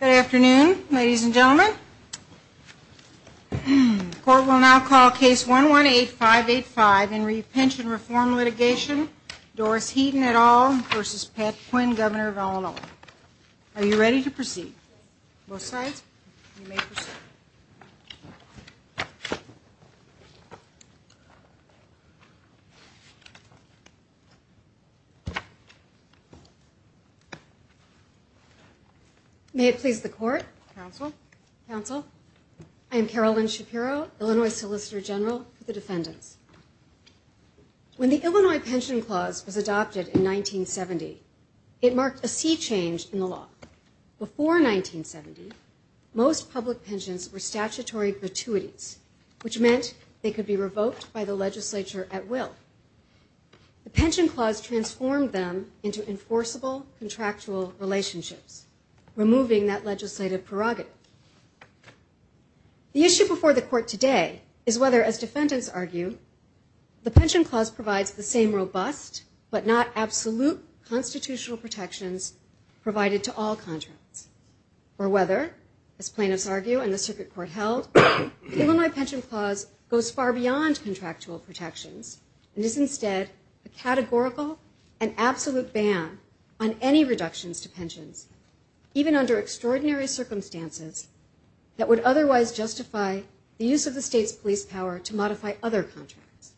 Good afternoon, ladies and gentlemen. Court will now call Case 118585 in re Pension Reform Litigation, Doris Heaton et al. v. Pat Quinn, Governor of Illinois. Are you ready to proceed? Both sides? You may proceed. May it please the Court. Counsel. Counsel. I am Carolyn Shapiro, Illinois Solicitor General for the Defendants. When the Illinois Pension Clause was adopted in 1970, it marked a sea change in the law. Before 1970, most public pensions were statutory gratuities, which meant they could be revoked by the legislature at will. The Pension Clause transformed them into enforceable contractual relationships, removing that legislative prerogative. The issue before the Court today is whether, as defendants argue, the Pension Clause provides the same robust but not absolute constitutional protections provided to all contracts, or whether, as plaintiffs argue and the Circuit Court held, the Illinois Pension Clause goes far beyond contractual protections and is instead a categorical and absolute ban on any reductions to pensions, even under extraordinary circumstances, that would otherwise justify the use of the state's police power to modify other contracts.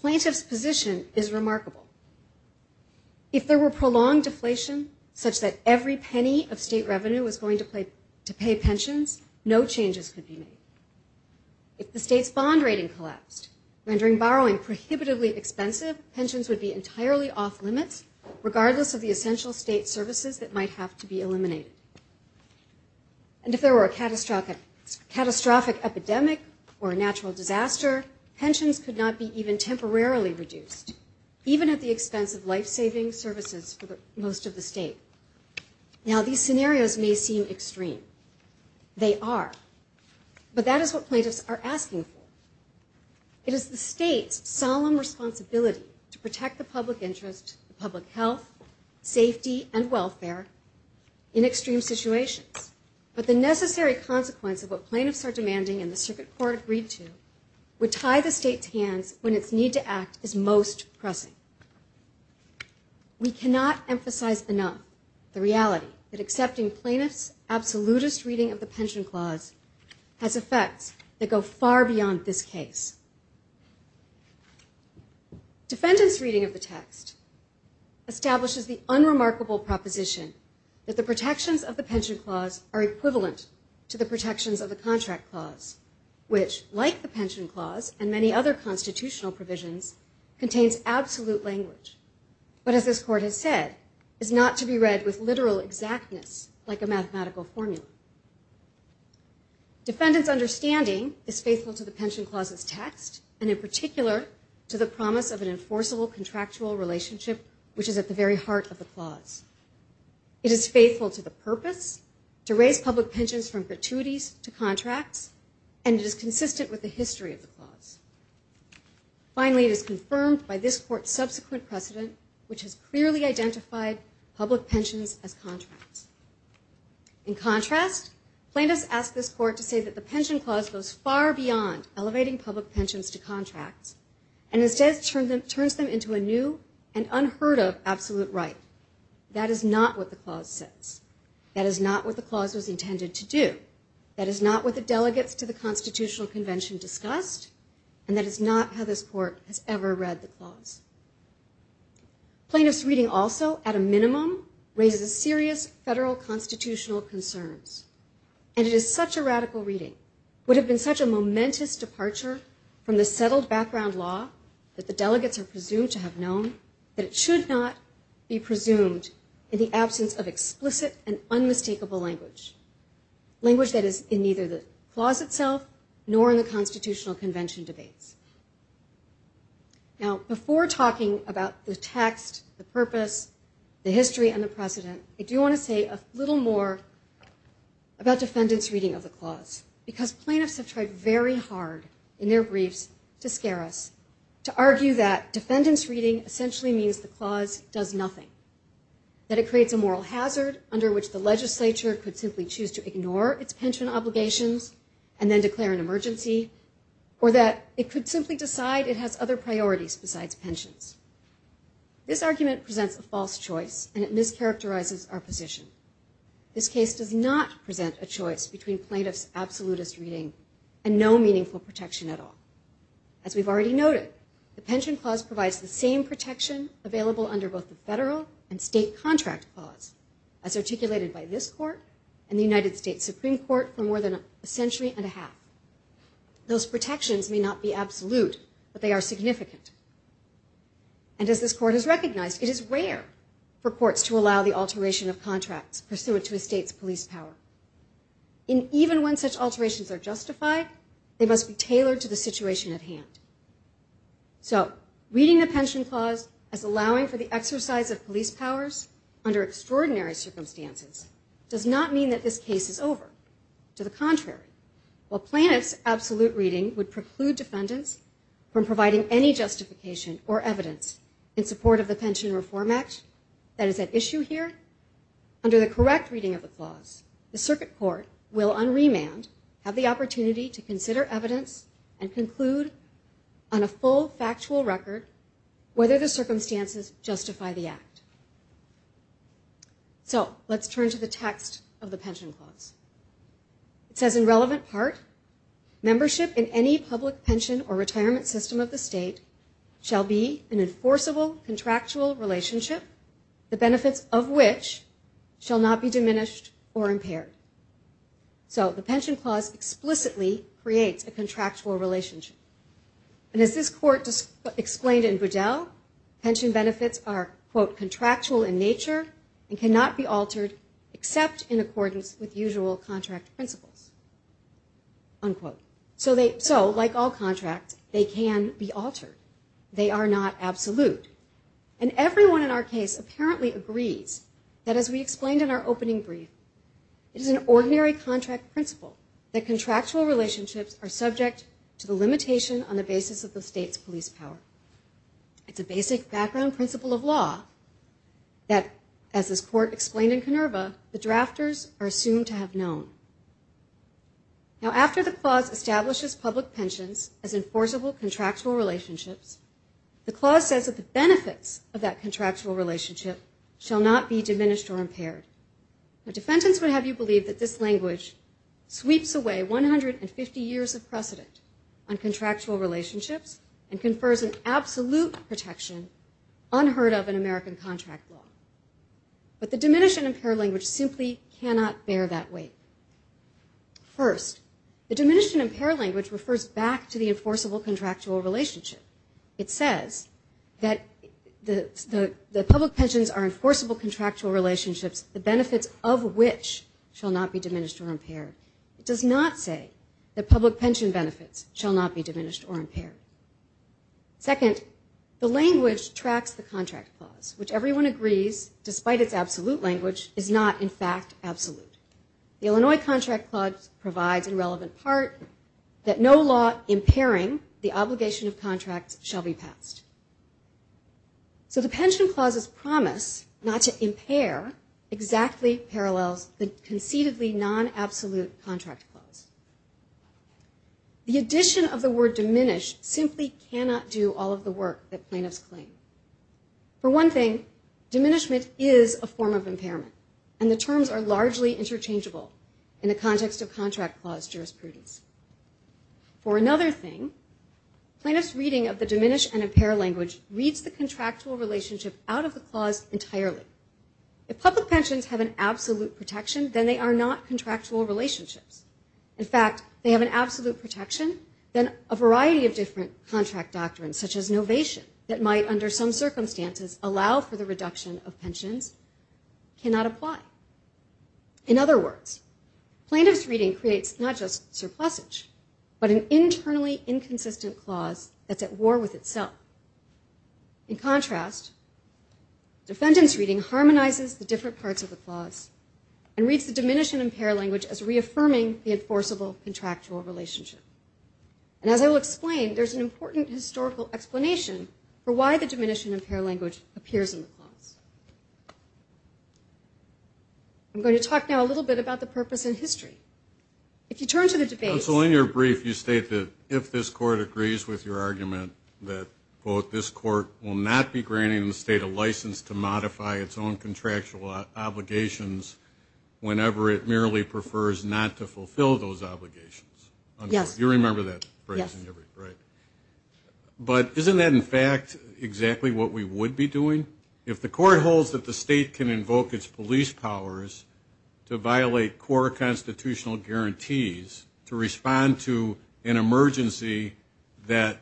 Plaintiffs' position is remarkable. If there were prolonged deflation, such that every penny of state revenue was going to pay pensions, no changes could be made. If the state's bond rating collapsed, rendering borrowing prohibitively expensive, pensions would be entirely off limits, regardless of the essential state services that might have to be eliminated. And if there were a catastrophic epidemic or a natural disaster, pensions could not be even temporarily reduced, even at the expense of life-saving services for most of the state. Now, these scenarios may seem extreme. They are. But that is what plaintiffs are asking for. It is the state's solemn responsibility to protect the public interest, public health, safety, and welfare in extreme situations. But the necessary consequence of what plaintiffs are demanding and the Circuit Court agreed to would tie the state's hands when its need to act is most pressing. We cannot emphasize enough the reality that accepting plaintiffs' absolutist reading of the Pension Clause has effects that go far beyond this case. Defendants' reading of the text establishes the unremarkable proposition that the protections of the Pension Clause are equivalent to the protections of the Contract Clause, which, like the Pension Clause and many other constitutional provisions, contains absolute language, but as this Court has said, is not to be read with literal exactness like a mathematical formula. Defendants' understanding is faithful to the Pension Clause's text and in particular to the promise of an enforceable contractual relationship which is at the very heart of the clause. It is faithful to the purpose to raise public pensions from gratuities to contracts, and it is consistent with the history of the clause. Finally, it is confirmed by this Court's subsequent precedent, which has clearly identified public pensions as contracts. In contrast, plaintiffs ask this Court to say that the Pension Clause goes far beyond elevating public pensions to contracts and instead turns them into a new and unheard-of absolute right. That is not what the clause says. That is not what the clause was intended to do. That is not what the delegates to the Constitutional Convention discussed, and that is not how this Court has ever read the clause. Plaintiffs' reading also, at a minimum, raises serious federal constitutional concerns. And it is such a radical reading, would have been such a momentous departure from the settled background law that the delegates are presumed to have known, that it should not be presumed in the absence of explicit and unmistakable language, language that is in neither the clause itself nor in the Constitutional Convention debates. Now, before talking about the text, the purpose, the history, and the precedent, I do want to say a little more about defendants' reading of the clause, because plaintiffs have tried very hard in their briefs to scare us, to argue that defendants' reading essentially means the clause does nothing, that it creates a moral hazard under which the legislature could simply choose to ignore its pension obligations and then declare an emergency, or that it could simply decide it has other priorities besides pensions. This argument presents a false choice, and it mischaracterizes our position. This case does not present a choice between plaintiffs' absolutist reading and no meaningful protection at all. As we've already noted, the pension clause provides the same protection available under both the federal and state contract clause, as articulated by this Court and the United States Supreme Court for more than a century and a half. Those protections may not be absolute, but they are significant. And as this Court has recognized, it is rare for courts to allow the alteration of contracts pursuant to a state's police power. And even when such alterations are justified, they must be tailored to the situation at hand. So reading the pension clause as allowing for the exercise of police powers under extraordinary circumstances does not mean that this case is over. To the contrary, while plaintiffs' absolute reading would preclude defendants from providing any justification or evidence in support of the Pension Reform Act that is at issue here, under the correct reading of the clause, the circuit court will on remand have the opportunity to consider evidence and conclude on a full factual record whether the circumstances justify the act. So let's turn to the text of the pension clause. It says, in relevant part, membership in any public pension or retirement system of the state shall be an enforceable contractual relationship, the benefits of which shall not be diminished or impaired. So the pension clause explicitly creates a contractual relationship. And as this Court explained in Budell, pension benefits are, quote, contractual in nature and cannot be altered except in accordance with usual contract principles, unquote. So like all contracts, they can be altered. They are not absolute. And everyone in our case apparently agrees that as we explained in our opening brief, it is an ordinary contract principle that contractual relationships are subject to the limitation on the basis of the state's police power. It's a basic background principle of law that, as this Court explained in Kenerva, the drafters are assumed to have known. Now, after the clause establishes public pensions as enforceable contractual relationships, the clause says that the benefits of that contractual relationship shall not be diminished or impaired. Now, defendants would have you believe that this language sweeps away 150 years of precedent on contractual relationships and confers an absolute protection unheard of in American contract law. But the diminish and impair language simply cannot bear that weight. First, the diminish and impair language refers back to the enforceable contractual relationship. It says that the public pensions are enforceable contractual relationships, the benefits of which shall not be diminished or impaired. It does not say that public pension benefits shall not be diminished or impaired. Second, the language tracks the contract clause, which everyone agrees, despite its absolute language, is not in fact absolute. The Illinois contract clause provides a relevant part that no law impairing the obligation of contracts shall be passed. So the pension clause's promise not to impair exactly parallels the conceitedly non-absolute contract clause. The addition of the word diminish simply cannot do all of the work that plaintiffs claim. For one thing, diminishment is a form of impairment, and the terms are largely interchangeable in the context of contract clause jurisprudence. For another thing, plaintiffs' reading of the diminish and impair language reads the contractual relationship out of the clause entirely. If public pensions have an absolute protection, then they are not contractual relationships. In fact, if they have an absolute protection, then a variety of different contract doctrines, such as novation, that might, under some circumstances, allow for the reduction of pensions, cannot apply. In other words, plaintiffs' reading creates not just surplusage, but an internally inconsistent clause that's at war with itself. In contrast, defendants' reading harmonizes the different parts of the clause and reads the diminish and impair language as reaffirming the enforceable contractual relationship. And as I will explain, for why the diminish and impair language appears in the clause. I'm going to talk now a little bit about the purpose and history. If you turn to the debate... So in your brief, you state that if this court agrees with your argument that, quote, this court will not be granting the state a license to modify its own contractual obligations whenever it merely prefers not to fulfill those obligations. Yes. You remember that phrase, right? But isn't that, in fact, exactly what we would be doing? If the court holds that the state can invoke its police powers to violate core constitutional guarantees to respond to an emergency that,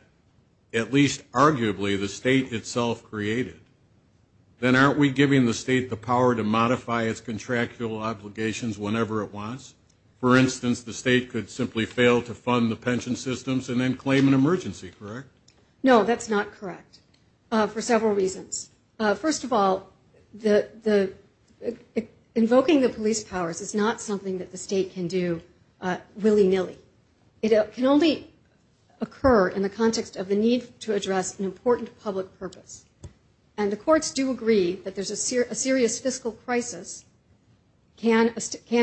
at least arguably, the state itself created, then aren't we giving the state the power to modify its contractual obligations whenever it wants? For instance, the state could simply fail to fund the pension systems and then claim an emergency, correct? No, that's not correct. For several reasons. First of all, invoking the police powers is not something that the state can do willy-nilly. It can only occur in the context of the need to address an important public purpose. And the courts do agree that a serious fiscal crisis can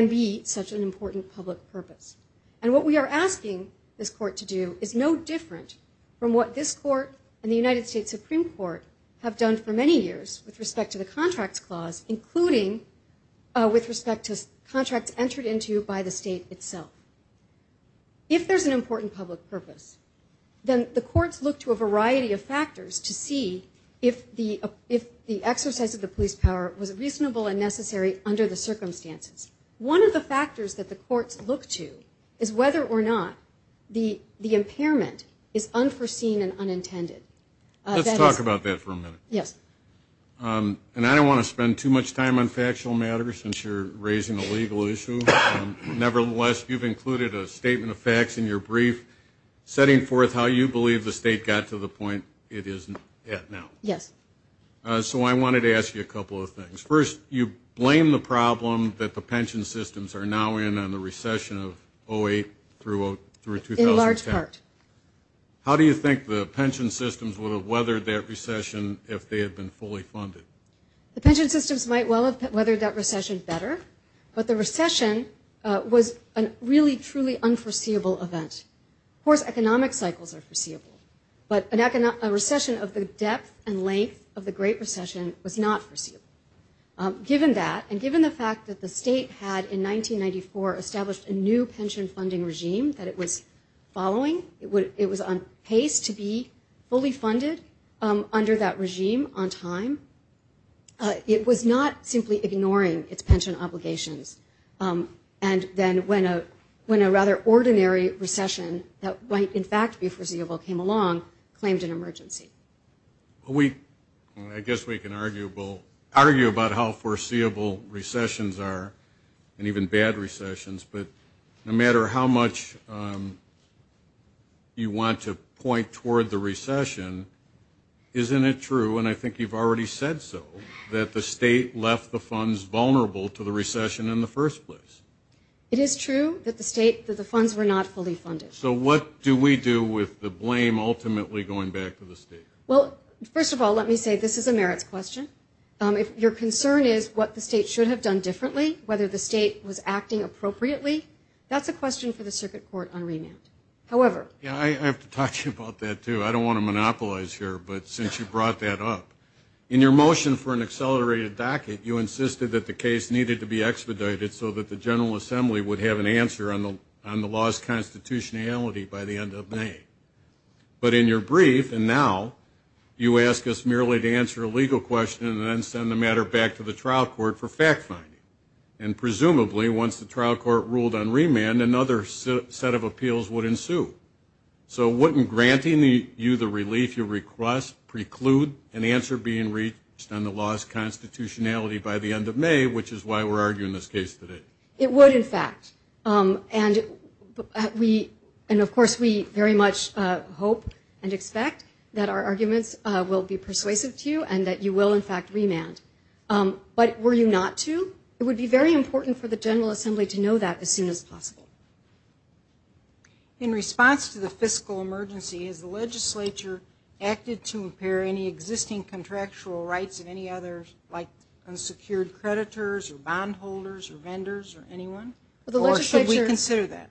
be such an important public purpose. And what we are asking this court to do is no different from what this court and the United States Supreme Court have done for many years with respect to the Contracts Clause, including with respect to contracts entered into by the state itself. If there's an important public purpose, then the courts look to a variety of factors to see if the exercise of the police power was reasonable and necessary under the circumstances. One of the factors that the courts look to is whether or not the impairment is unforeseen and unintended. Let's talk about that for a minute. Yes. And I don't want to spend too much time on factual matters since you're raising a legal issue. Nevertheless, you've included a statement of facts in your brief setting forth how you believe the state got to the point it is at now. Yes. So I wanted to ask you a couple of things. First, you blame the problem that the pension systems are now in on the recession of 2008 through 2010. In large part. How do you think the pension systems would have weathered that recession if they had been fully funded? The pension systems might well have weathered that recession better, but the recession was a really, truly unforeseeable event. Of course, economic cycles are foreseeable, but a recession of the depth and length of the Great Recession was not foreseeable. Given that, and given the fact that the state had, in 1994, established a new pension funding regime that it was following, it was on pace to be fully funded under that regime on time, it was not simply ignoring its pension obligations. And then when a rather ordinary recession that might in fact be foreseeable came along, claimed an emergency. I guess we can argue about how foreseeable recessions are, and even bad recessions, but no matter how much you want to point toward the recession, isn't it true, and I think you've already said so, that the state left the funds vulnerable to the recession in the first place? It is true that the funds were not fully funded. So what do we do with the blame ultimately going back to the state? Well, first of all, let me say this is a merits question. If your concern is what the state should have done differently, whether the state was acting appropriately, that's a question for the Circuit Court on remand. However. Yeah, I have to talk to you about that, too. I don't want to monopolize here, but since you brought that up, in your motion for an accelerated docket, you insisted that the case needed to be expedited so that the General Assembly would have an answer on the law's constitutionality by the end of May. But in your brief, and now, you ask us merely to answer a legal question and then send the matter back to the trial court for fact-finding. And presumably, once the trial court ruled on remand, another set of appeals would ensue. So wouldn't granting you the relief you request preclude an answer being reached on the law's constitutionality by the end of May, which is why we're arguing this case today? It would, in fact. And, of course, we very much hope and expect that our arguments will be persuasive to you and that you will, in fact, remand. But were you not to, it would be very important for the General Assembly to know that as soon as possible. In response to the fiscal emergency, has the legislature acted to impair any existing contractual rights of any others, like unsecured creditors or bondholders or vendors or anyone? Or should we consider that?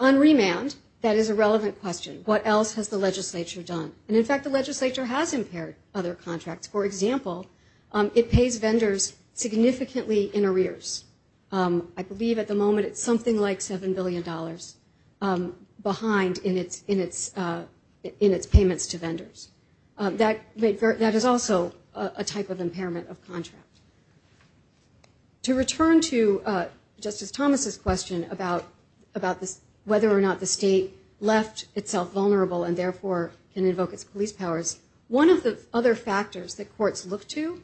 On remand, that is a relevant question. What else has the legislature done? And, in fact, the legislature has impaired other contracts. For example, it pays vendors significantly in arrears. I believe at the moment it's something like $7 billion behind in its payments to vendors. That is also a type of impairment of contract. To return to Justice Thomas' question about whether or not the state left itself vulnerable and, therefore, can invoke its police powers, one of the other factors that courts look to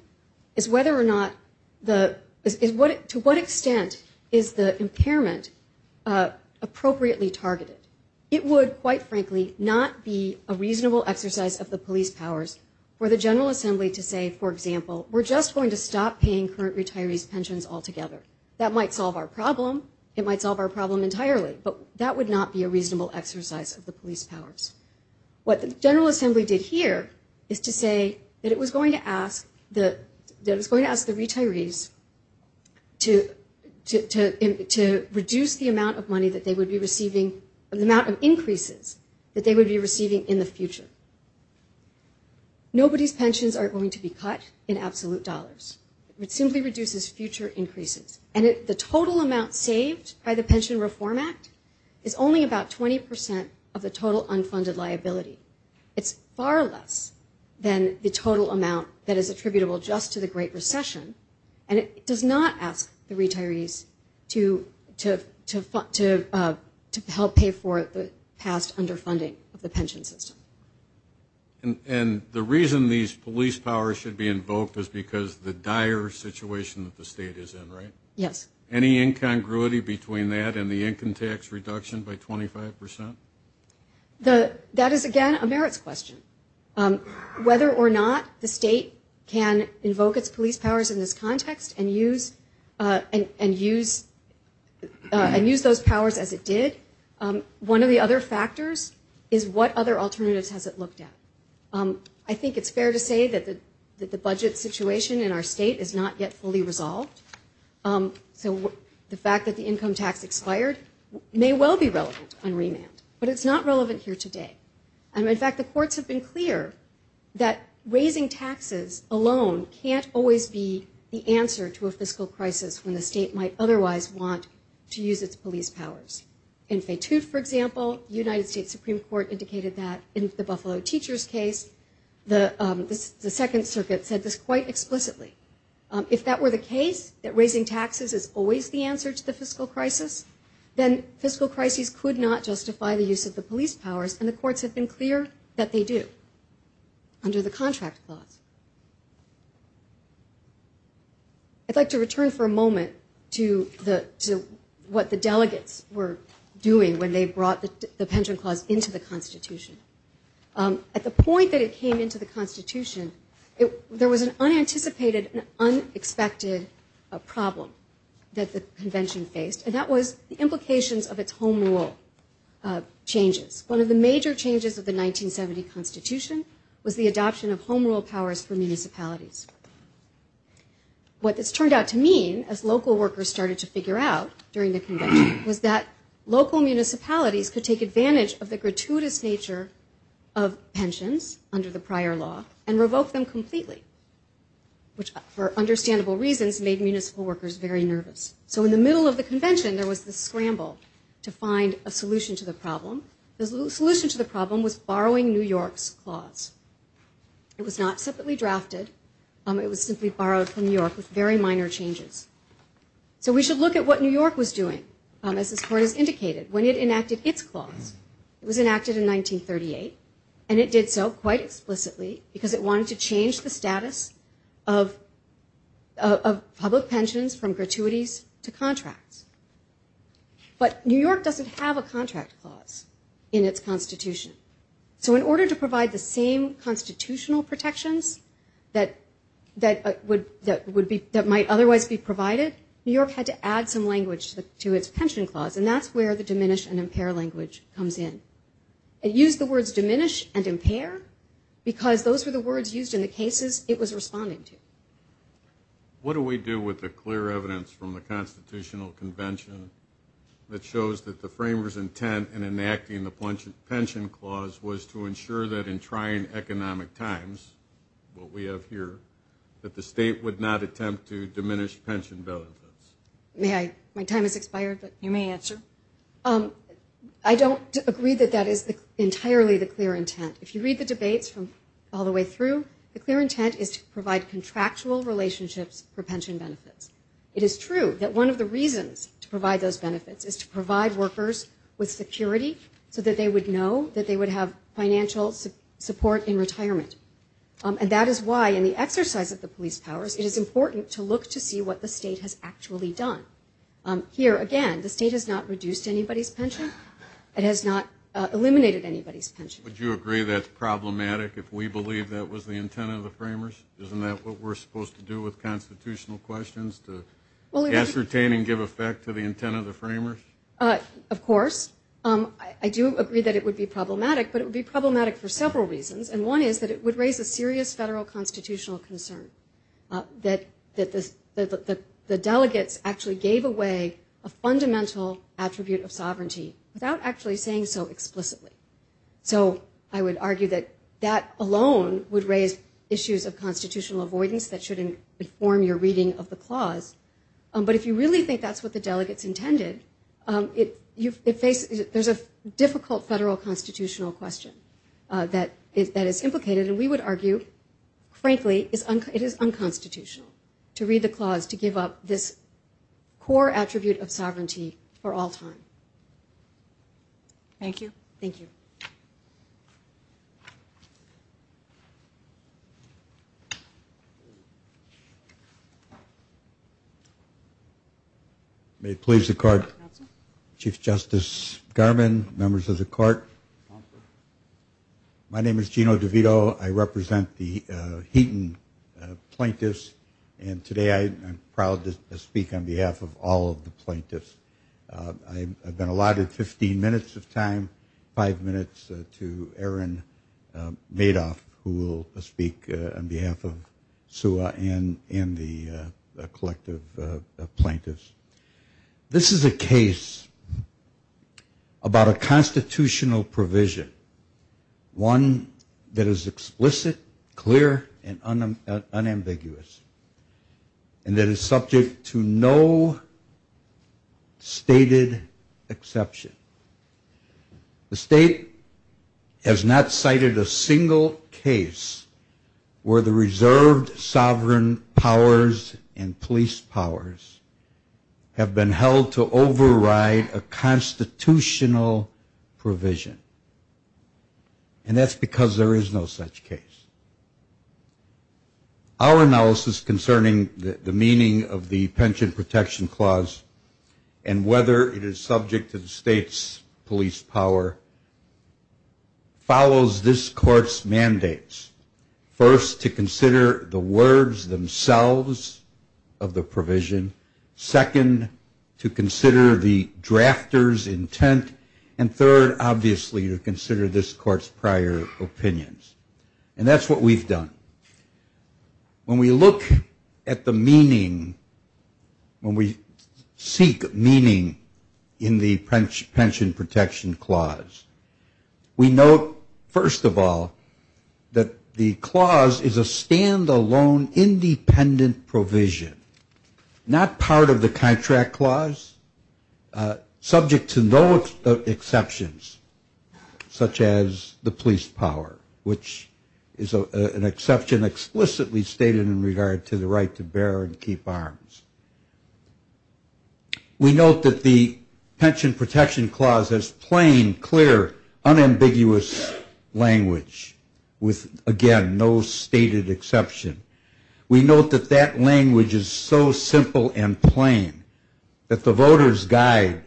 is to what extent is the impairment appropriately targeted. It would, quite frankly, not be a reasonable exercise of the police powers for the General Assembly to say, for example, we're just going to stop paying current retirees' pensions altogether. That might solve our problem. It might solve our problem entirely. But that would not be a reasonable exercise of the police powers. What the General Assembly did here is to say that it was going to ask the retirees to reduce the amount of money that they would be receiving, the amount of increases that they would be receiving in the future. Nobody's pensions are going to be cut in absolute dollars. It simply reduces future increases. And the total amount saved by the Pension Reform Act is only about 20 percent of the total unfunded liability. It's far less than the total amount that is attributable just to the Great Recession, and it does not ask the retirees to help pay for the past underfunding of the pension system. And the reason these police powers should be invoked is because the dire situation that the state is in, right? Yes. Any incongruity between that and the income tax reduction by 25 percent? That is, again, a merits question. Whether or not the state can invoke its police powers in this context and use those powers as it did, one of the other factors is what other alternatives has it looked at? I think it's fair to say that the budget situation in our state is not yet fully resolved. So the fact that the income tax expired may well be relevant on remand, but it's not relevant here today. And, in fact, the courts have been clear that raising taxes alone can't always be the answer to a fiscal crisis when the state might otherwise want to use its police powers. In Fetout, for example, the United States Supreme Court indicated that in the Buffalo Teachers case, the Second Circuit said this quite explicitly. If that were the case, that raising taxes is always the answer to the fiscal crisis, then fiscal crises could not justify the use of the police powers, and the courts have been clear that they do under the contract clause. I'd like to return for a moment to what the delegates were doing when they brought the pension clause into the Constitution. At the point that it came into the Constitution, there was an unanticipated, an unexpected problem that the Convention faced, and that was the implications of its home rule changes. One of the major changes of the 1970 Constitution was the adoption of home rule powers for municipalities. What this turned out to mean, as local workers started to figure out during the Convention, was that local municipalities could take advantage of the gratuitous nature of pensions under the prior law and revoke them completely, which, for understandable reasons, made municipal workers very nervous. So in the middle of the Convention, there was this scramble to find a solution to the problem. The solution to the problem was borrowing New York's clause. It was not separately drafted. It was simply borrowed from New York with very minor changes. So we should look at what New York was doing, as this Court has indicated. When it enacted its clause, it was enacted in 1938, and it did so quite explicitly because it wanted to change the status of public pensions from gratuities to contracts. But New York doesn't have a contract clause in its Constitution. So in order to provide the same constitutional protections that might otherwise be provided, New York had to add some language to its pension clause, and that's where the diminish and impair language comes in. It used the words diminish and impair because those were the words used in the cases it was responding to. What do we do with the clear evidence from the Constitutional Convention that shows that the framers' intent in enacting the pension clause was to ensure that in trying economic times, what we have here, that the state would not attempt to diminish pension benefits? May I? My time has expired, but you may answer. I don't agree that that is entirely the clear intent. If you read the debates from all the way through, the clear intent is to provide contractual relationships for pension benefits. It is true that one of the reasons to provide those benefits is to provide workers with security so that they would know that they would have financial support in retirement. And that is why in the exercise of the police powers, it is important to look to see what the state has actually done. Here, again, the state has not reduced anybody's pension. It has not eliminated anybody's pension. Would you agree that's problematic if we believe that was the intent of the framers? Isn't that what we're supposed to do with constitutional questions, to ascertain and give effect to the intent of the framers? Of course. I do agree that it would be problematic, but it would be problematic for several reasons. And one is that it would raise a serious federal constitutional concern, that the delegates actually gave away a fundamental attribute of sovereignty without actually saying so explicitly. So I would argue that that alone would raise issues of constitutional avoidance that shouldn't inform your reading of the clause. But if you really think that's what the delegates intended, there's a difficult federal constitutional question that is implicated, and we would argue, frankly, it is unconstitutional to read the clause to give up this core attribute of sovereignty for all time. Thank you. Thank you. May it please the Court. Chief Justice Garmon, members of the Court. My name is Gino DeVito. I represent the Heaton plaintiffs, and today I am proud to speak on behalf of all of the plaintiffs. I've been allotted 15 minutes of time, five minutes to Aaron Madoff, who will speak on behalf of SUA and the collective plaintiffs. This is a case about a constitutional provision, one that is explicit, clear, and unambiguous, and that is subject to no stated exception. The state has not cited a single case where the reserved sovereign powers and police powers have been held to override a constitutional provision, and that's because there is no such case. Our analysis concerning the meaning of the Pension Protection Clause and whether it is subject to the state's police power follows this Court's mandates. First, to consider the words themselves of the provision. Second, to consider the drafter's intent. And third, obviously, to consider this Court's prior opinions. And that's what we've done. When we look at the meaning, when we seek meaning in the Pension Protection Clause, we note, first of all, that the clause is a stand-alone independent provision, not part of the Contract Clause, subject to no exceptions, such as the police power, which is an exception explicitly stated in regard to the right to bear and keep arms. We note that the Pension Protection Clause has plain, clear, unambiguous language, with, again, no stated exception. We note that that language is so simple and plain that the voters' guide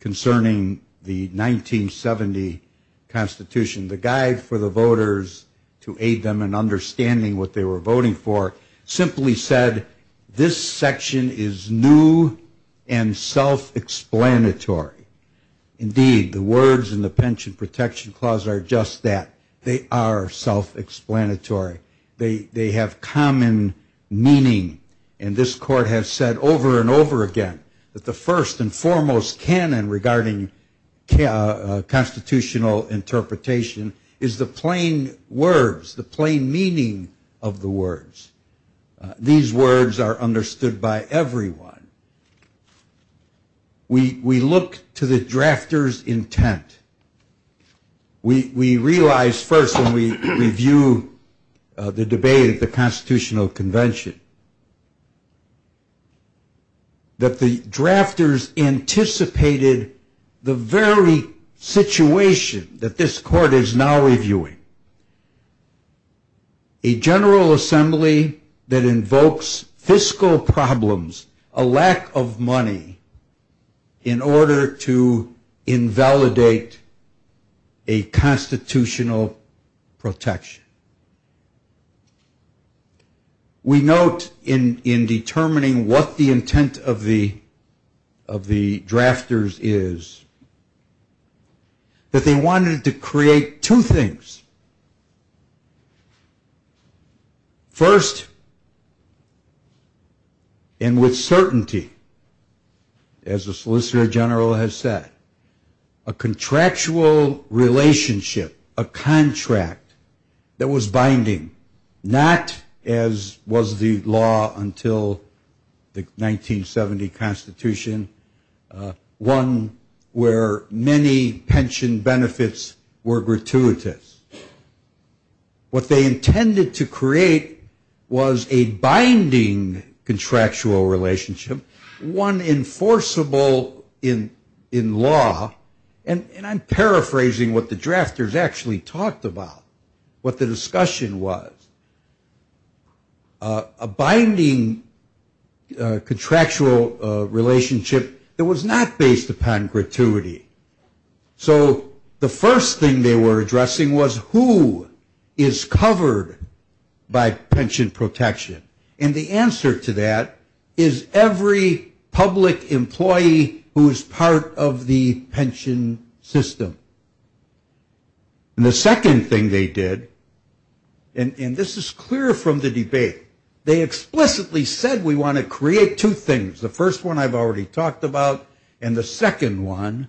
concerning the 1970 Constitution, the guide for the voters to aid them in understanding what they were voting for, simply said, this section is new and self-explanatory. Indeed, the words in the Pension Protection Clause are just that. They are self-explanatory. They have common meaning. And this Court has said over and over again that the first and foremost canon regarding constitutional interpretation is the plain words, the plain meaning of the words. These words are understood by everyone. We look to the drafter's intent. We realize first when we review the debate at the Constitutional Convention that the drafters anticipated the very situation that this Court is now reviewing, a General Assembly that invokes fiscal problems, a lack of money, in order to invalidate a constitutional protection. We note in determining what the intent of the drafters is that they wanted to create two things. First, and with certainty, as the Solicitor General has said, a contractual relationship, a contract that was binding, not as was the law until the 1970 Constitution, one where many pension benefits were gratuitous. What they intended to create was a binding contractual relationship, one enforceable in law. And I'm paraphrasing what the drafters actually talked about, what the discussion was. A binding contractual relationship that was not based upon gratuity. So the first thing they were addressing was who is covered by pension protection. And the answer to that is every public employee who is part of the pension system. And the second thing they did, and this is clear from the debate, they explicitly said we want to create two things. The first one I've already talked about. And the second one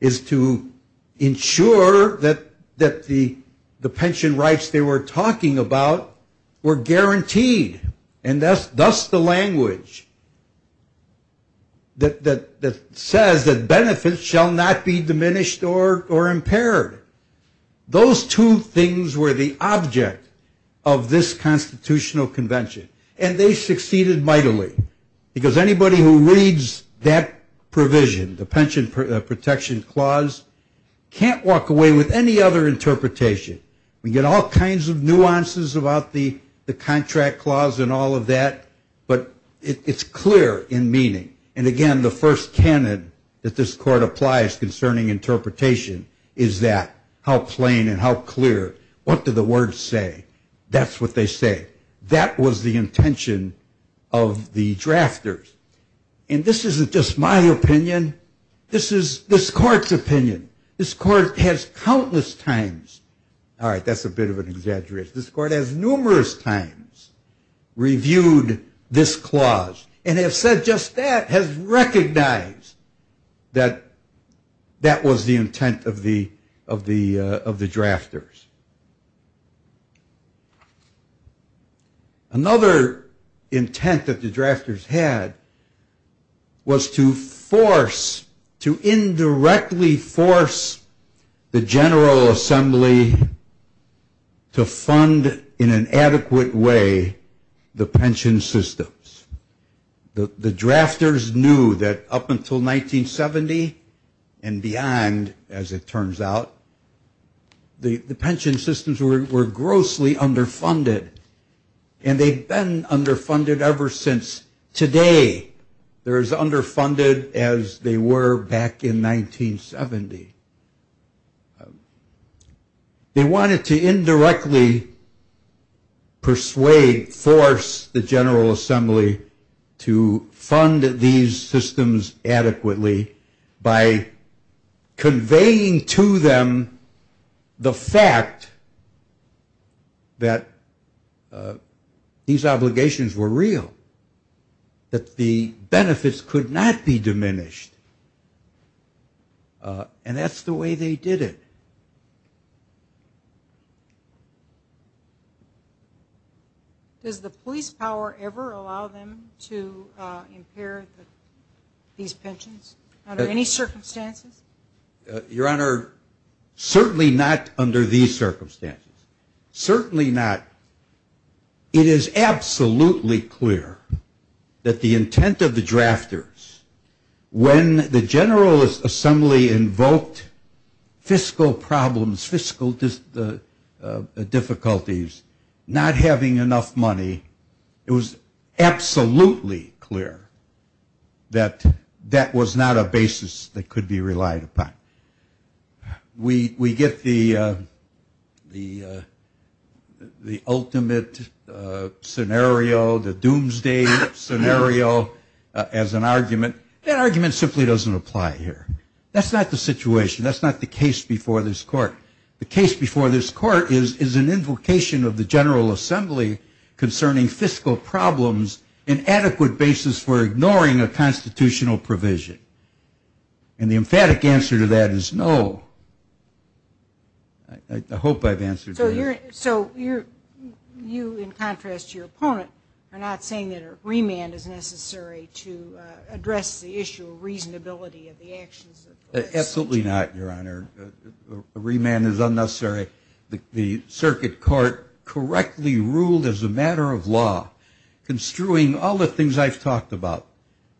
is to ensure that the pension rights they were talking about were guaranteed. And thus the language that says that benefits shall not be diminished or impaired. Those two things were the object of this constitutional convention. And they succeeded mightily. Because anybody who reads that provision, the pension protection clause, can't walk away with any other interpretation. We get all kinds of nuances about the contract clause and all of that, but it's clear in meaning. And, again, the first canon that this court applies concerning interpretation is that how plain and how clear, what do the words say? That's what they say. That was the intention of the drafters. And this isn't just my opinion. This is this court's opinion. This court has countless times. All right, that's a bit of an exaggeration. This court has numerous times reviewed this clause. And has said just that, has recognized that that was the intent of the drafters. Another intent that the drafters had was to force, to indirectly force, the General Assembly to fund in an adequate way the pension systems. The drafters knew that up until 1970 and beyond, as it turns out, the pension systems were grossly underfunded. And they've been underfunded ever since. Today they're as underfunded as they were back in 1970. They wanted to indirectly persuade, force the General Assembly to fund these systems adequately by conveying to them the fact that these obligations were real, that the benefits could not be diminished. And that's the way they did it. Does the police power ever allow them to impair these pensions under any circumstances? Your Honor, certainly not under these circumstances. Certainly not. It is absolutely clear that the intent of the drafters, when the General Assembly invoked fiscal problems, fiscal difficulties, not having enough money, it was absolutely clear that that was not a basis that could be relied upon. We get the ultimate scenario, the doomsday scenario, as an argument. That argument simply doesn't apply here. That's not the situation. That's not the case before this Court. The case before this Court is an invocation of the General Assembly concerning fiscal problems, an adequate basis for ignoring a constitutional provision. And the emphatic answer to that is no. I hope I've answered that. So you, in contrast to your opponent, are not saying that a remand is necessary to address the issue of reasonability of the actions of the legislature? Absolutely not, Your Honor. A remand is unnecessary. The Circuit Court correctly ruled as a matter of law, construing all the things I've talked about,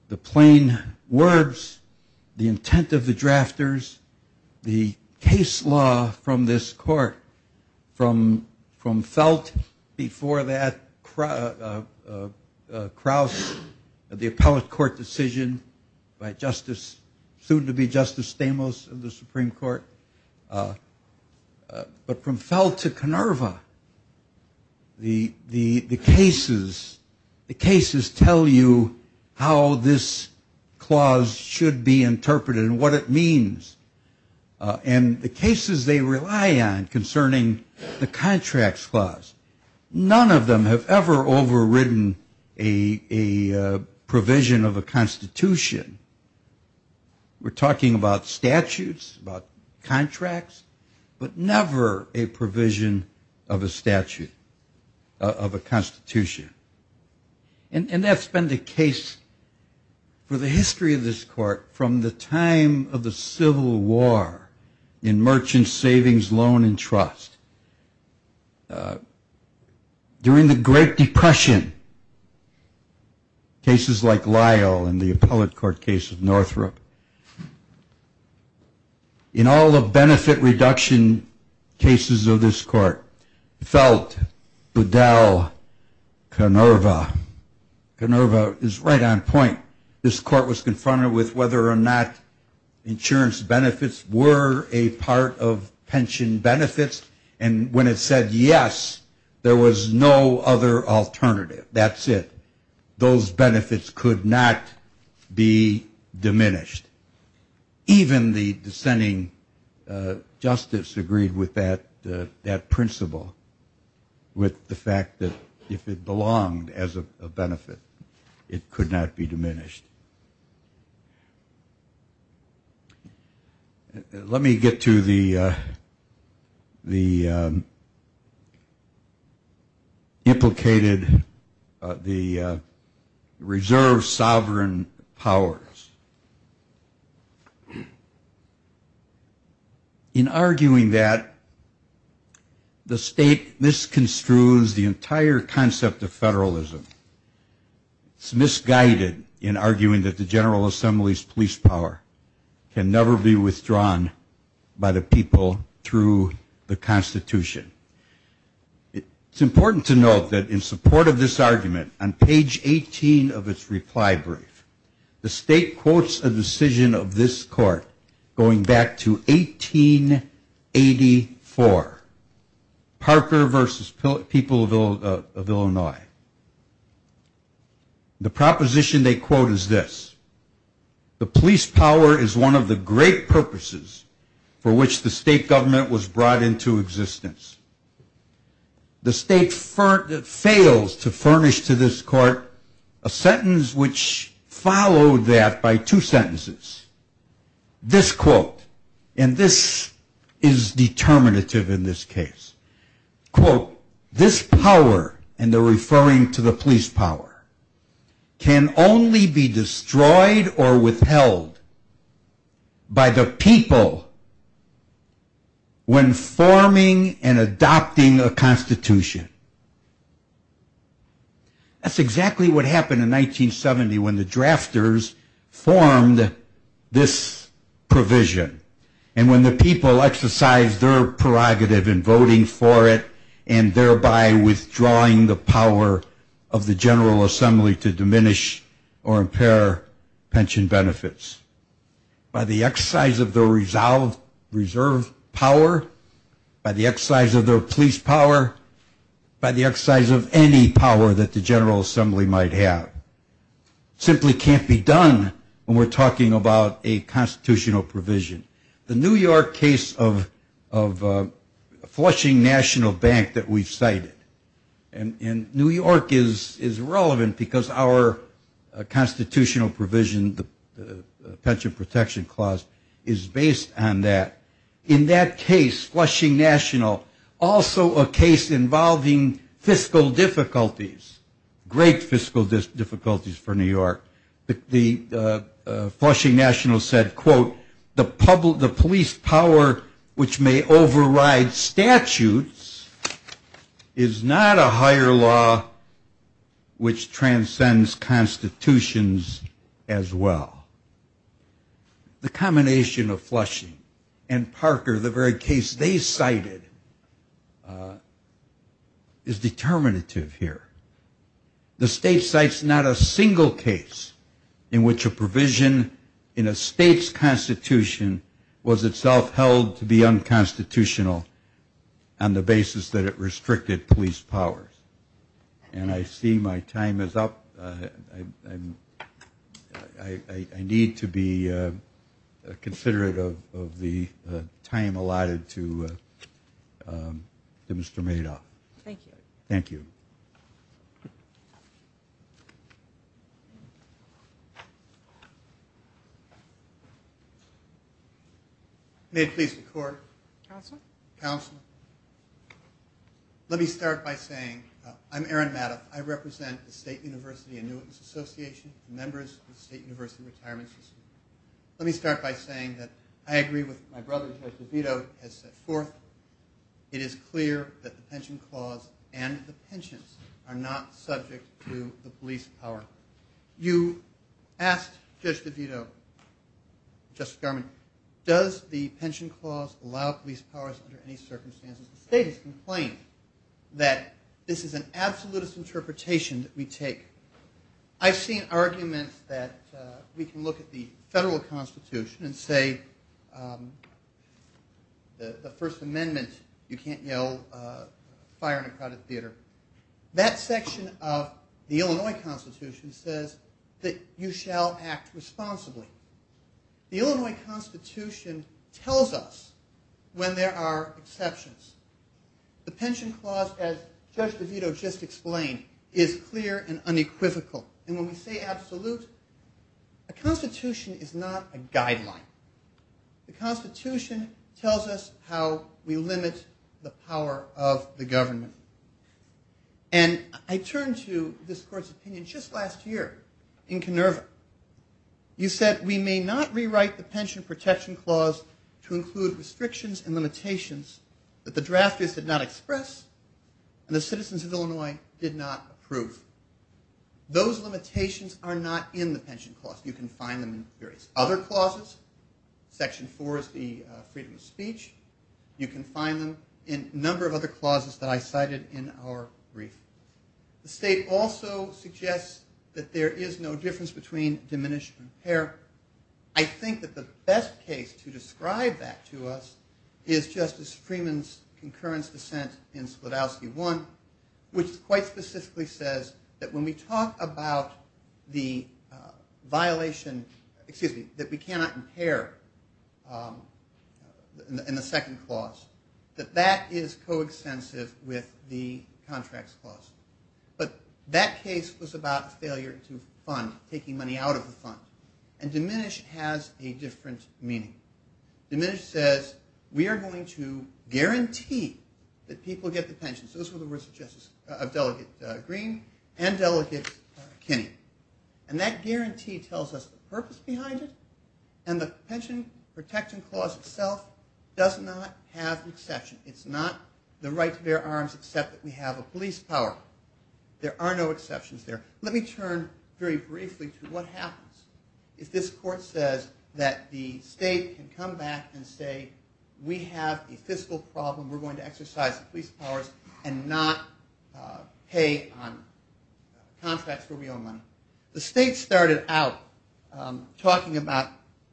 the plain words, the intent of the drafters, the case law from this Court, from Felt before that, Crouse, the appellate court decision by Justice, soon to be Justice Stamos of the Supreme Court, but from Felt to Canerva, the cases, the cases tell you how this clause should be interpreted and what it means. And the cases they rely on concerning the contracts clause, none of them have ever overridden a provision of a constitution. We're talking about statutes, about contracts, but never a provision of a statute, of a constitution. And that's been the case for the history of this Court from the time of the Civil War in merchant savings, loan, and trust. During the Great Depression, cases like Lyle and the appellate court case of Northrop, in all the benefit reduction cases of this Court, Felt, Budell, Canerva, Canerva is right on point. This Court was confronted with whether or not insurance benefits were a part of pension benefits, and when it said yes, there was no other alternative. That's it. Those benefits could not be diminished. Even the dissenting justice agreed with that principle, with the fact that if it belonged as a benefit, it could not be diminished. Let me get to the implicated, the reserve sovereign powers. In arguing that, the state misconstrues the entire concept of federalism. It's misguided in arguing that the General Assembly's police power can never be withdrawn by the people through the Constitution. It's important to note that in support of this argument, on page 18 of its reply brief, the state quotes a decision of this Court going back to 1884. Parker versus people of Illinois. The proposition they quote is this. The police power is one of the great purposes for which the state government was brought into existence. The state fails to furnish to this Court a sentence which followed that by two sentences. This quote, and this is determinative in this case. Quote, this power, and they're referring to the police power, can only be destroyed or withheld by the people when forming and adopting a Constitution. That's exactly what happened in 1970 when the drafters formed this provision. And when the people exercised their prerogative in voting for it, and thereby withdrawing the power of the General Assembly to diminish or impair pension benefits. By the exercise of their reserve power, by the exercise of their police power, by the exercise of any power that the General Assembly might have. It simply can't be done when we're talking about a constitutional provision. The New York case of Flushing National Bank that we've cited. And New York is relevant because our constitutional provision, the Pension Protection Clause, is based on that. In that case, Flushing National, also a case involving fiscal difficulties, great fiscal difficulties for New York. The Flushing National said, quote, the police power which may override statutes is not a higher law which transcends constitutions as well. The combination of Flushing and Parker, the very case they cited, is determinative here. The state cites not a single case in which a provision in a state's constitution was itself held to be unconstitutional on the basis that it restricted police powers. And I see my time is up. I need to be considerate of the time allotted to Mr. Madoff. Thank you. May it please the Court. Let me start by saying I'm Aaron Madoff. I represent the State University Annuitants Association, members of the State University Retirement System. Let me start by saying that I agree with what my brother, Judge DeVito, has set forth. It is clear that the Pension Clause and the pensions are not subject to the police power. You asked Judge DeVito, Justice Garman, does the Pension Clause allow police powers under any circumstances? The State has complained that this is an absolutist interpretation that we take. I've seen arguments that we can look at the federal constitution and say the first thing we need to do is make sure that the police powers are not subject to the police powers. That section of the Illinois Constitution says that you shall act responsibly. The Illinois Constitution tells us when there are exceptions. The Pension Clause, as Judge DeVito just explained, is clear and unequivocal. And when we say absolute, a constitution is not a guideline. The Constitution tells us how we limit the power of the government. And I turn to this Court's opinion just last year in Kinnerva. You said we may not rewrite the Pension Protection Clause to include restrictions and limitations that the drafters did not express and the citizens of Illinois did not approve. Those limitations are not in the Pension Clause. You can find them in various other clauses. Section 4 is the freedom of speech. You can find them in a number of other clauses that I cited in our brief. The state also suggests that there is no difference between diminish and impair. I think that the best case to describe that to us is Justice Freeman's concurrence dissent in Splodowski 1, which quite specifically says that when we talk about the violation that we cannot impair in the second clause, that that is coextensive with the Contracts Clause. But that case was about a failure to fund, taking money out of the fund. And diminish has a different meaning. Diminish says we are going to guarantee that people get the pensions. Those were the words of Delegate Green and Delegate Kinney. And that guarantee tells us the purpose behind it and the Pension Protection Clause itself does not have an exception. It's not the right to bear arms except that we have a police power. There are no exceptions there. Let me turn very briefly to what happens if this court says that the state can come back and say we have a fiscal problem. We're going to exercise the police powers and not pay on contracts where we own money. The state started out talking about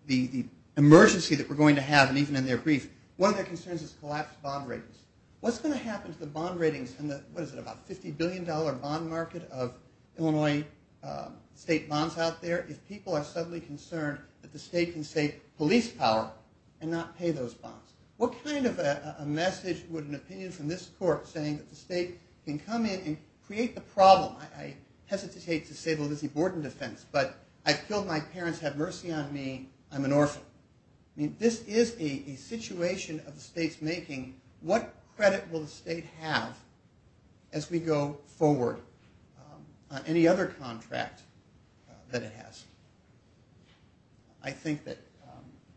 the emergency that we're going to have and even in their brief. One of their concerns is collapsed bond ratings. What's going to happen to the bond ratings in the $50 billion bond market of Illinois state bonds out there if people are suddenly concerned that the state can say police power and not pay those bonds? What kind of a message would an opinion from this court saying that the state can come in and create the problem? I hesitate to say the Lizzie Borden defense, but I've killed my parents, have mercy on me, I'm an orphan. This is a situation of the state's making. What credit will the state have as we go forward on any other contract that it has? I think that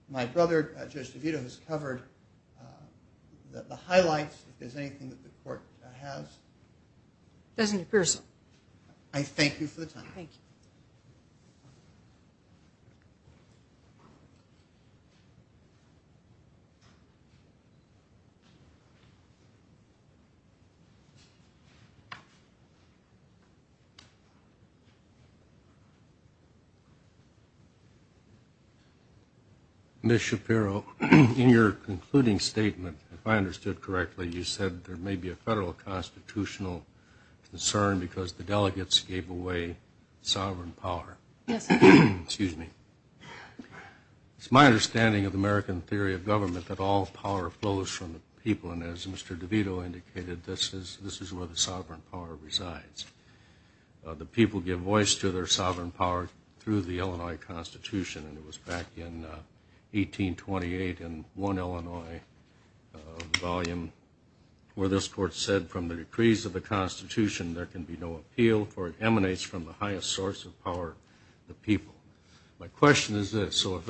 my brother, Judge DeVito, has covered the highlights. If there's anything that the court has. Doesn't appear so. I thank you for the time. Ms. Shapiro, in your concluding statement, if I understood correctly, you said there may be a federal constitutional concern because the delegates gave away sovereign power. Yes, sir. It's my understanding of American theory of government that all power flows from the people, and as Mr. DeVito indicated, this is where the sovereign power resides. The people give voice to their sovereign power through the Illinois Constitution, and it was back in 1828 in one Illinois volume where this court said, from the decrees of the Constitution, there can be no appeal for it emanates from the highest source of power, the people. My question is this. If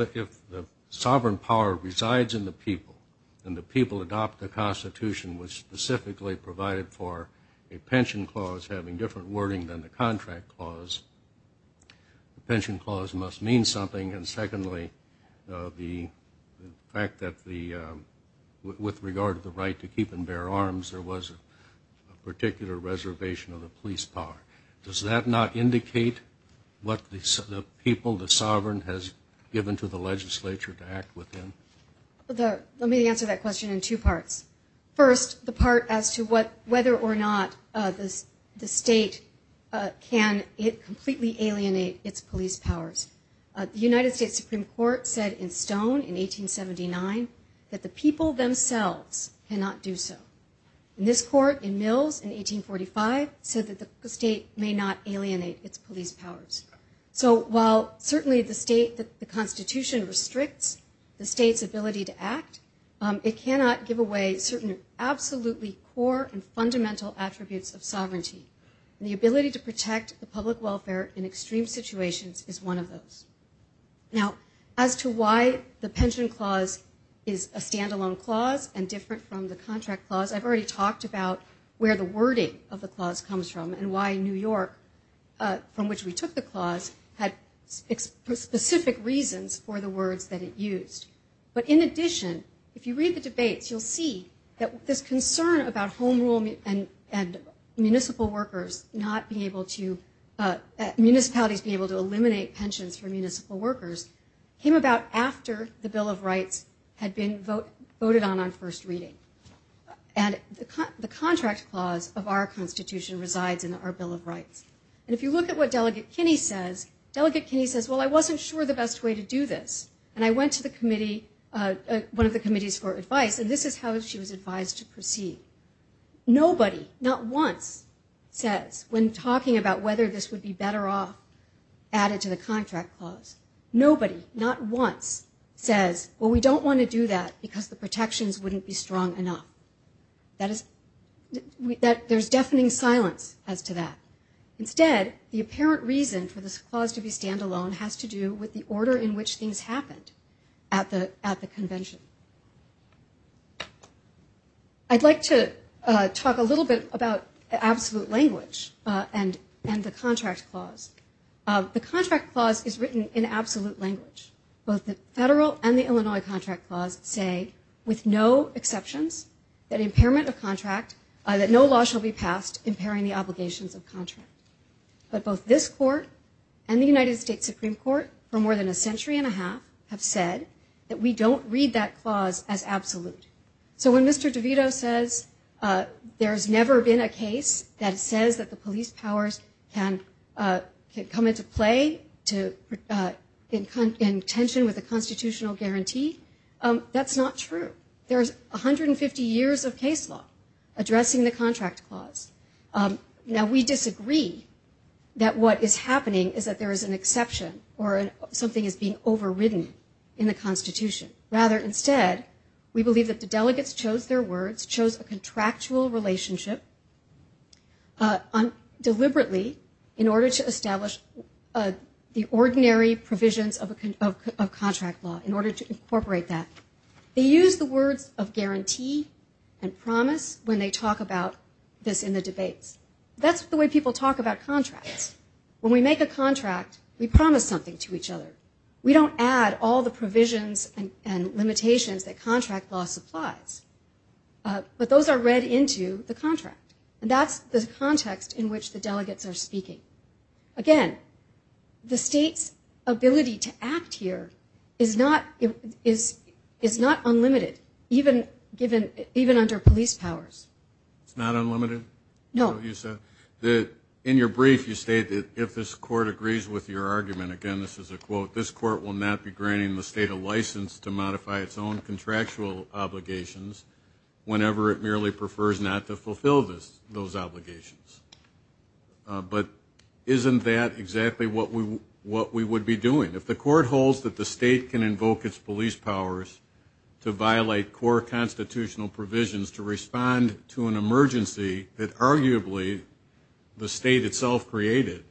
the sovereign power resides in the people and the people adopt the Constitution, which specifically provided for a pension clause having different wording than the contract clause, the pension clause must mean something, and secondly, the fact that with regard to the right to keep and bear arms, there was a particular reservation of the police power. Does that not indicate what the people, the sovereign, has given to the legislature to act within? Let me answer that question in two parts. First, the part as to whether or not the state can completely alienate its police powers. The United States Supreme Court said in Stone in 1879 that the people themselves cannot do so. And this court in Mills in 1845 said that the state may not alienate its police powers. So while certainly the state, the Constitution restricts the state's ability to act, it cannot give away certain absolutely core and fundamental attributes of sovereignty. And the ability to protect the public welfare in extreme situations is one of those. Now, as to why the pension clause is a standalone clause and different from the contract clause, I've already talked about where the wording of the clause comes from and why New York, from which we took the clause, had specific reasons for the words that it used. But in addition, if you read the debates, you'll see that this concern about home rule and municipal workers not being able to, municipalities being able to eliminate pensions for municipal workers, came about after the Bill of Rights had been voted on on first reading. And the contract clause of our Constitution resides in our Bill of Rights. And if you look at what Delegate Kinney says, Delegate Kinney says, well, I wasn't sure the best way to do this. And I went to the committee, one of the committees for advice, and this is how she was advised to proceed. Nobody, not once, says when talking about whether this would be better off added to the contract clause. Nobody, not once, says, well, we don't want to do that because the protections wouldn't be strong enough. That is, there's deafening silence as to that. Instead, the apparent reason for this clause to be standalone has to do with the order in which things happened at the convention. I'd like to talk a little bit about absolute language and the contract clause. The contract clause is written in absolute language. Both the federal and the Illinois contract clause say with no exceptions that impairment of contract, that no law shall be passed impairing the obligations of contract. But both this court and the United States Supreme Court for more than a century and a half have said that we don't read that clause as absolute. So when Mr. DeVito says there's never been a case that says that the police powers can come into play in tension with a constitutional guarantee, that's not true. There's 150 years of case law addressing the contract clause. Now, we disagree that what is happening is that there is an exception or something is being overridden in the Constitution. Rather, instead, we believe that the delegates chose their words, chose a contractual relationship, deliberately in order to establish the ordinary provisions of contract law, in order to incorporate that. They use the words of guarantee and promise when they talk about this in the debates. That's the way people talk about contracts. When we make a contract, we promise something to each other. We don't add all the provisions and limitations that contract law supplies. But those are read into the contract. And that's the context in which the delegates are speaking. Again, the state's ability to act here is not unlimited, even under police powers. It's not unlimited? No. In your brief, you state that if this court agrees with your argument, again, this is a quote, this court will not be granting the state a license to modify its own contractual obligations whenever it merely prefers not to fulfill those obligations. But isn't that exactly what we would be doing? If the court holds that the state can invoke its police powers to violate core constitutional provisions to respond to an emergency that arguably the state itself created,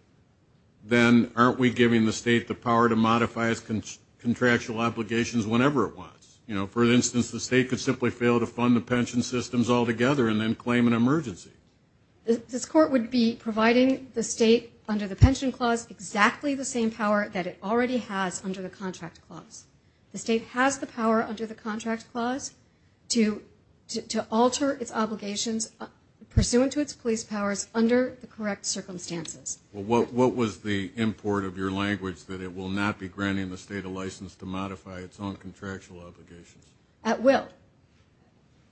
then aren't we giving the state the power to modify its contractual obligations whenever it wants? You know, for instance, the state could simply fail to fund the pension systems altogether and then claim an emergency. This court would be providing the state under the pension clause exactly the same power that it already has under the contract clause. The state has the power under the contract clause to alter its obligations pursuant to its police powers under the correct circumstances. Well, what was the import of your language that it will not be granting the state a license to modify its own contractual obligations? At will.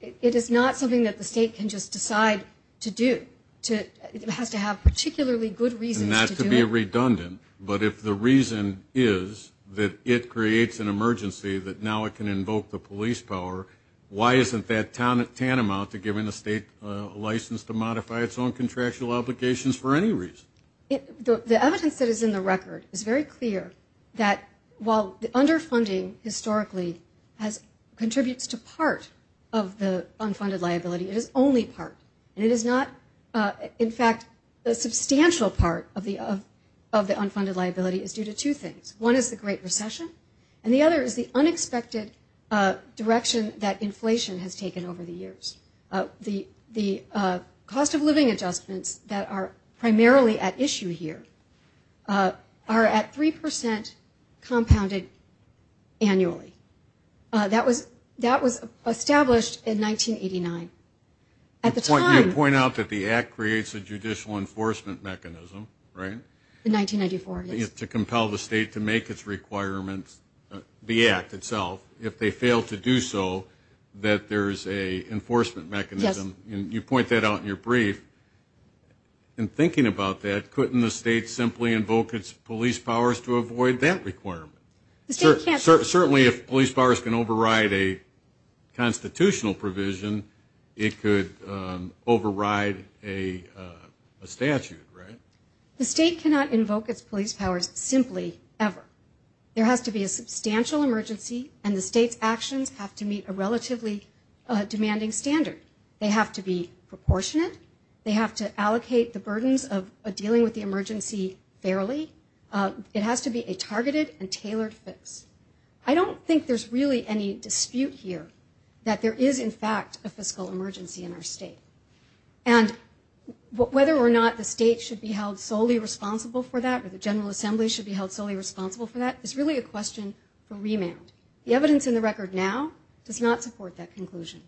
It is not something that the state can just decide to do. It has to have particularly good reasons to do it. Not to be redundant, but if the reason is that it creates an emergency that now it can invoke the police power, why isn't that tantamount to giving the state a license to modify its own contractual obligations for any reason? The evidence that is in the record is very clear that while underfunding historically contributes to part of the unfunded liability, it is only part. And it is not, in fact, a substantial part of the unfunded liability is due to two things. One is the Great Recession, and the other is the unexpected direction that inflation has taken over the years. The cost of living adjustments that are primarily at issue here are at 3% compounded annually. That was established in 1989. At the time... You point out that the act creates a judicial enforcement mechanism, right? You point that out in your brief. In thinking about that, couldn't the state simply invoke its police powers to avoid that requirement? Certainly if police powers can override a constitutional provision, it could override a statute, right? The state cannot invoke its police powers simply, ever. There has to be a substantial emergency, and the state's actions have to meet a relatively demanding standard. They have to be proportionate. They have to allocate the burdens of dealing with the emergency fairly. It has to be a targeted and tailored fix. I don't think there's really any dispute here that there is, in fact, a fiscal emergency in our state. Whether or not the state should be held solely responsible for that, or the General Assembly should be held solely responsible for that, is really a question for remand. The evidence in the record now does not support that conclusion.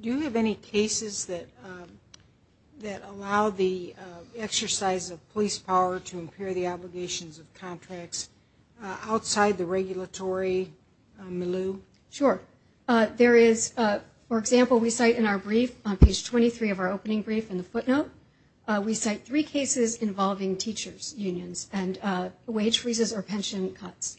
Do you have any cases that allow the exercise of police power to impair the obligations of contracts outside the regulatory milieu? Sure. For example, we cite in our brief, on page 23 of our opening brief in the footnote, we cite three cases involving teachers' unions and wage freezes or pension cuts.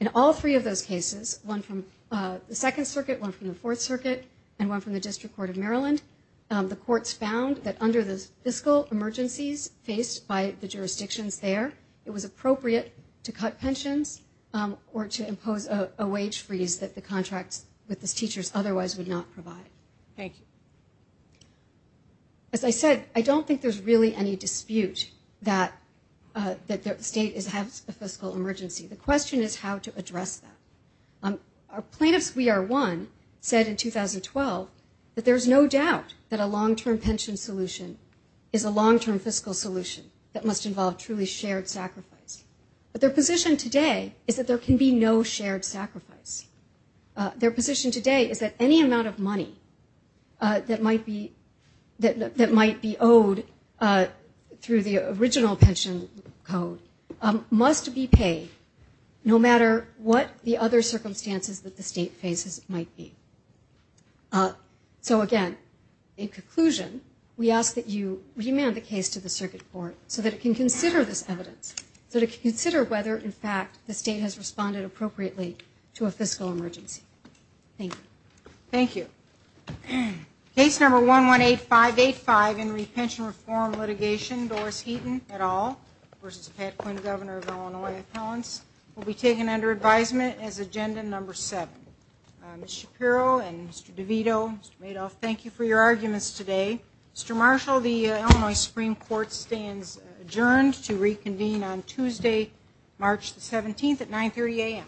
In all three of those cases, one from the Second Circuit, one from the Fourth Circuit, and one from the District Court of Maryland, the courts found that under the fiscal emergencies faced by the jurisdictions there, it was appropriate to cut pensions or to impose a wage freeze that the contracts with the teachers otherwise would not provide. Thank you. As I said, I don't think there's really any dispute that the state has a fiscal emergency. The question is how to address that. Our plaintiffs, we are one, said in 2012 that there's no doubt that a long-term pension solution is a long-term fiscal solution that must involve truly shared sacrifice. But their position today is that there can be no shared sacrifice. Their position today is that any amount of money that might be owed through the original pension code must be paid, no matter what the other circumstances that the state faces might be. So again, in conclusion, we ask that you remand the case to the Circuit Court so that it can consider this evidence, so that it can consider whether, in fact, the state has responded appropriately to a fiscal emergency. Thank you. Thank you. Case number 118585 in Repension Reform Litigation, Doris Heaton et al. versus Pat Quinn, Governor of Illinois, Appellants, will be taken under advisement as agenda number 7. Ms. Shapiro and Mr. DeVito, Mr. Madoff, thank you for your arguments today. Mr. Marshall, the Illinois Supreme Court stands adjourned to reconvene on Tuesday, March 17th at 9.30 a.m.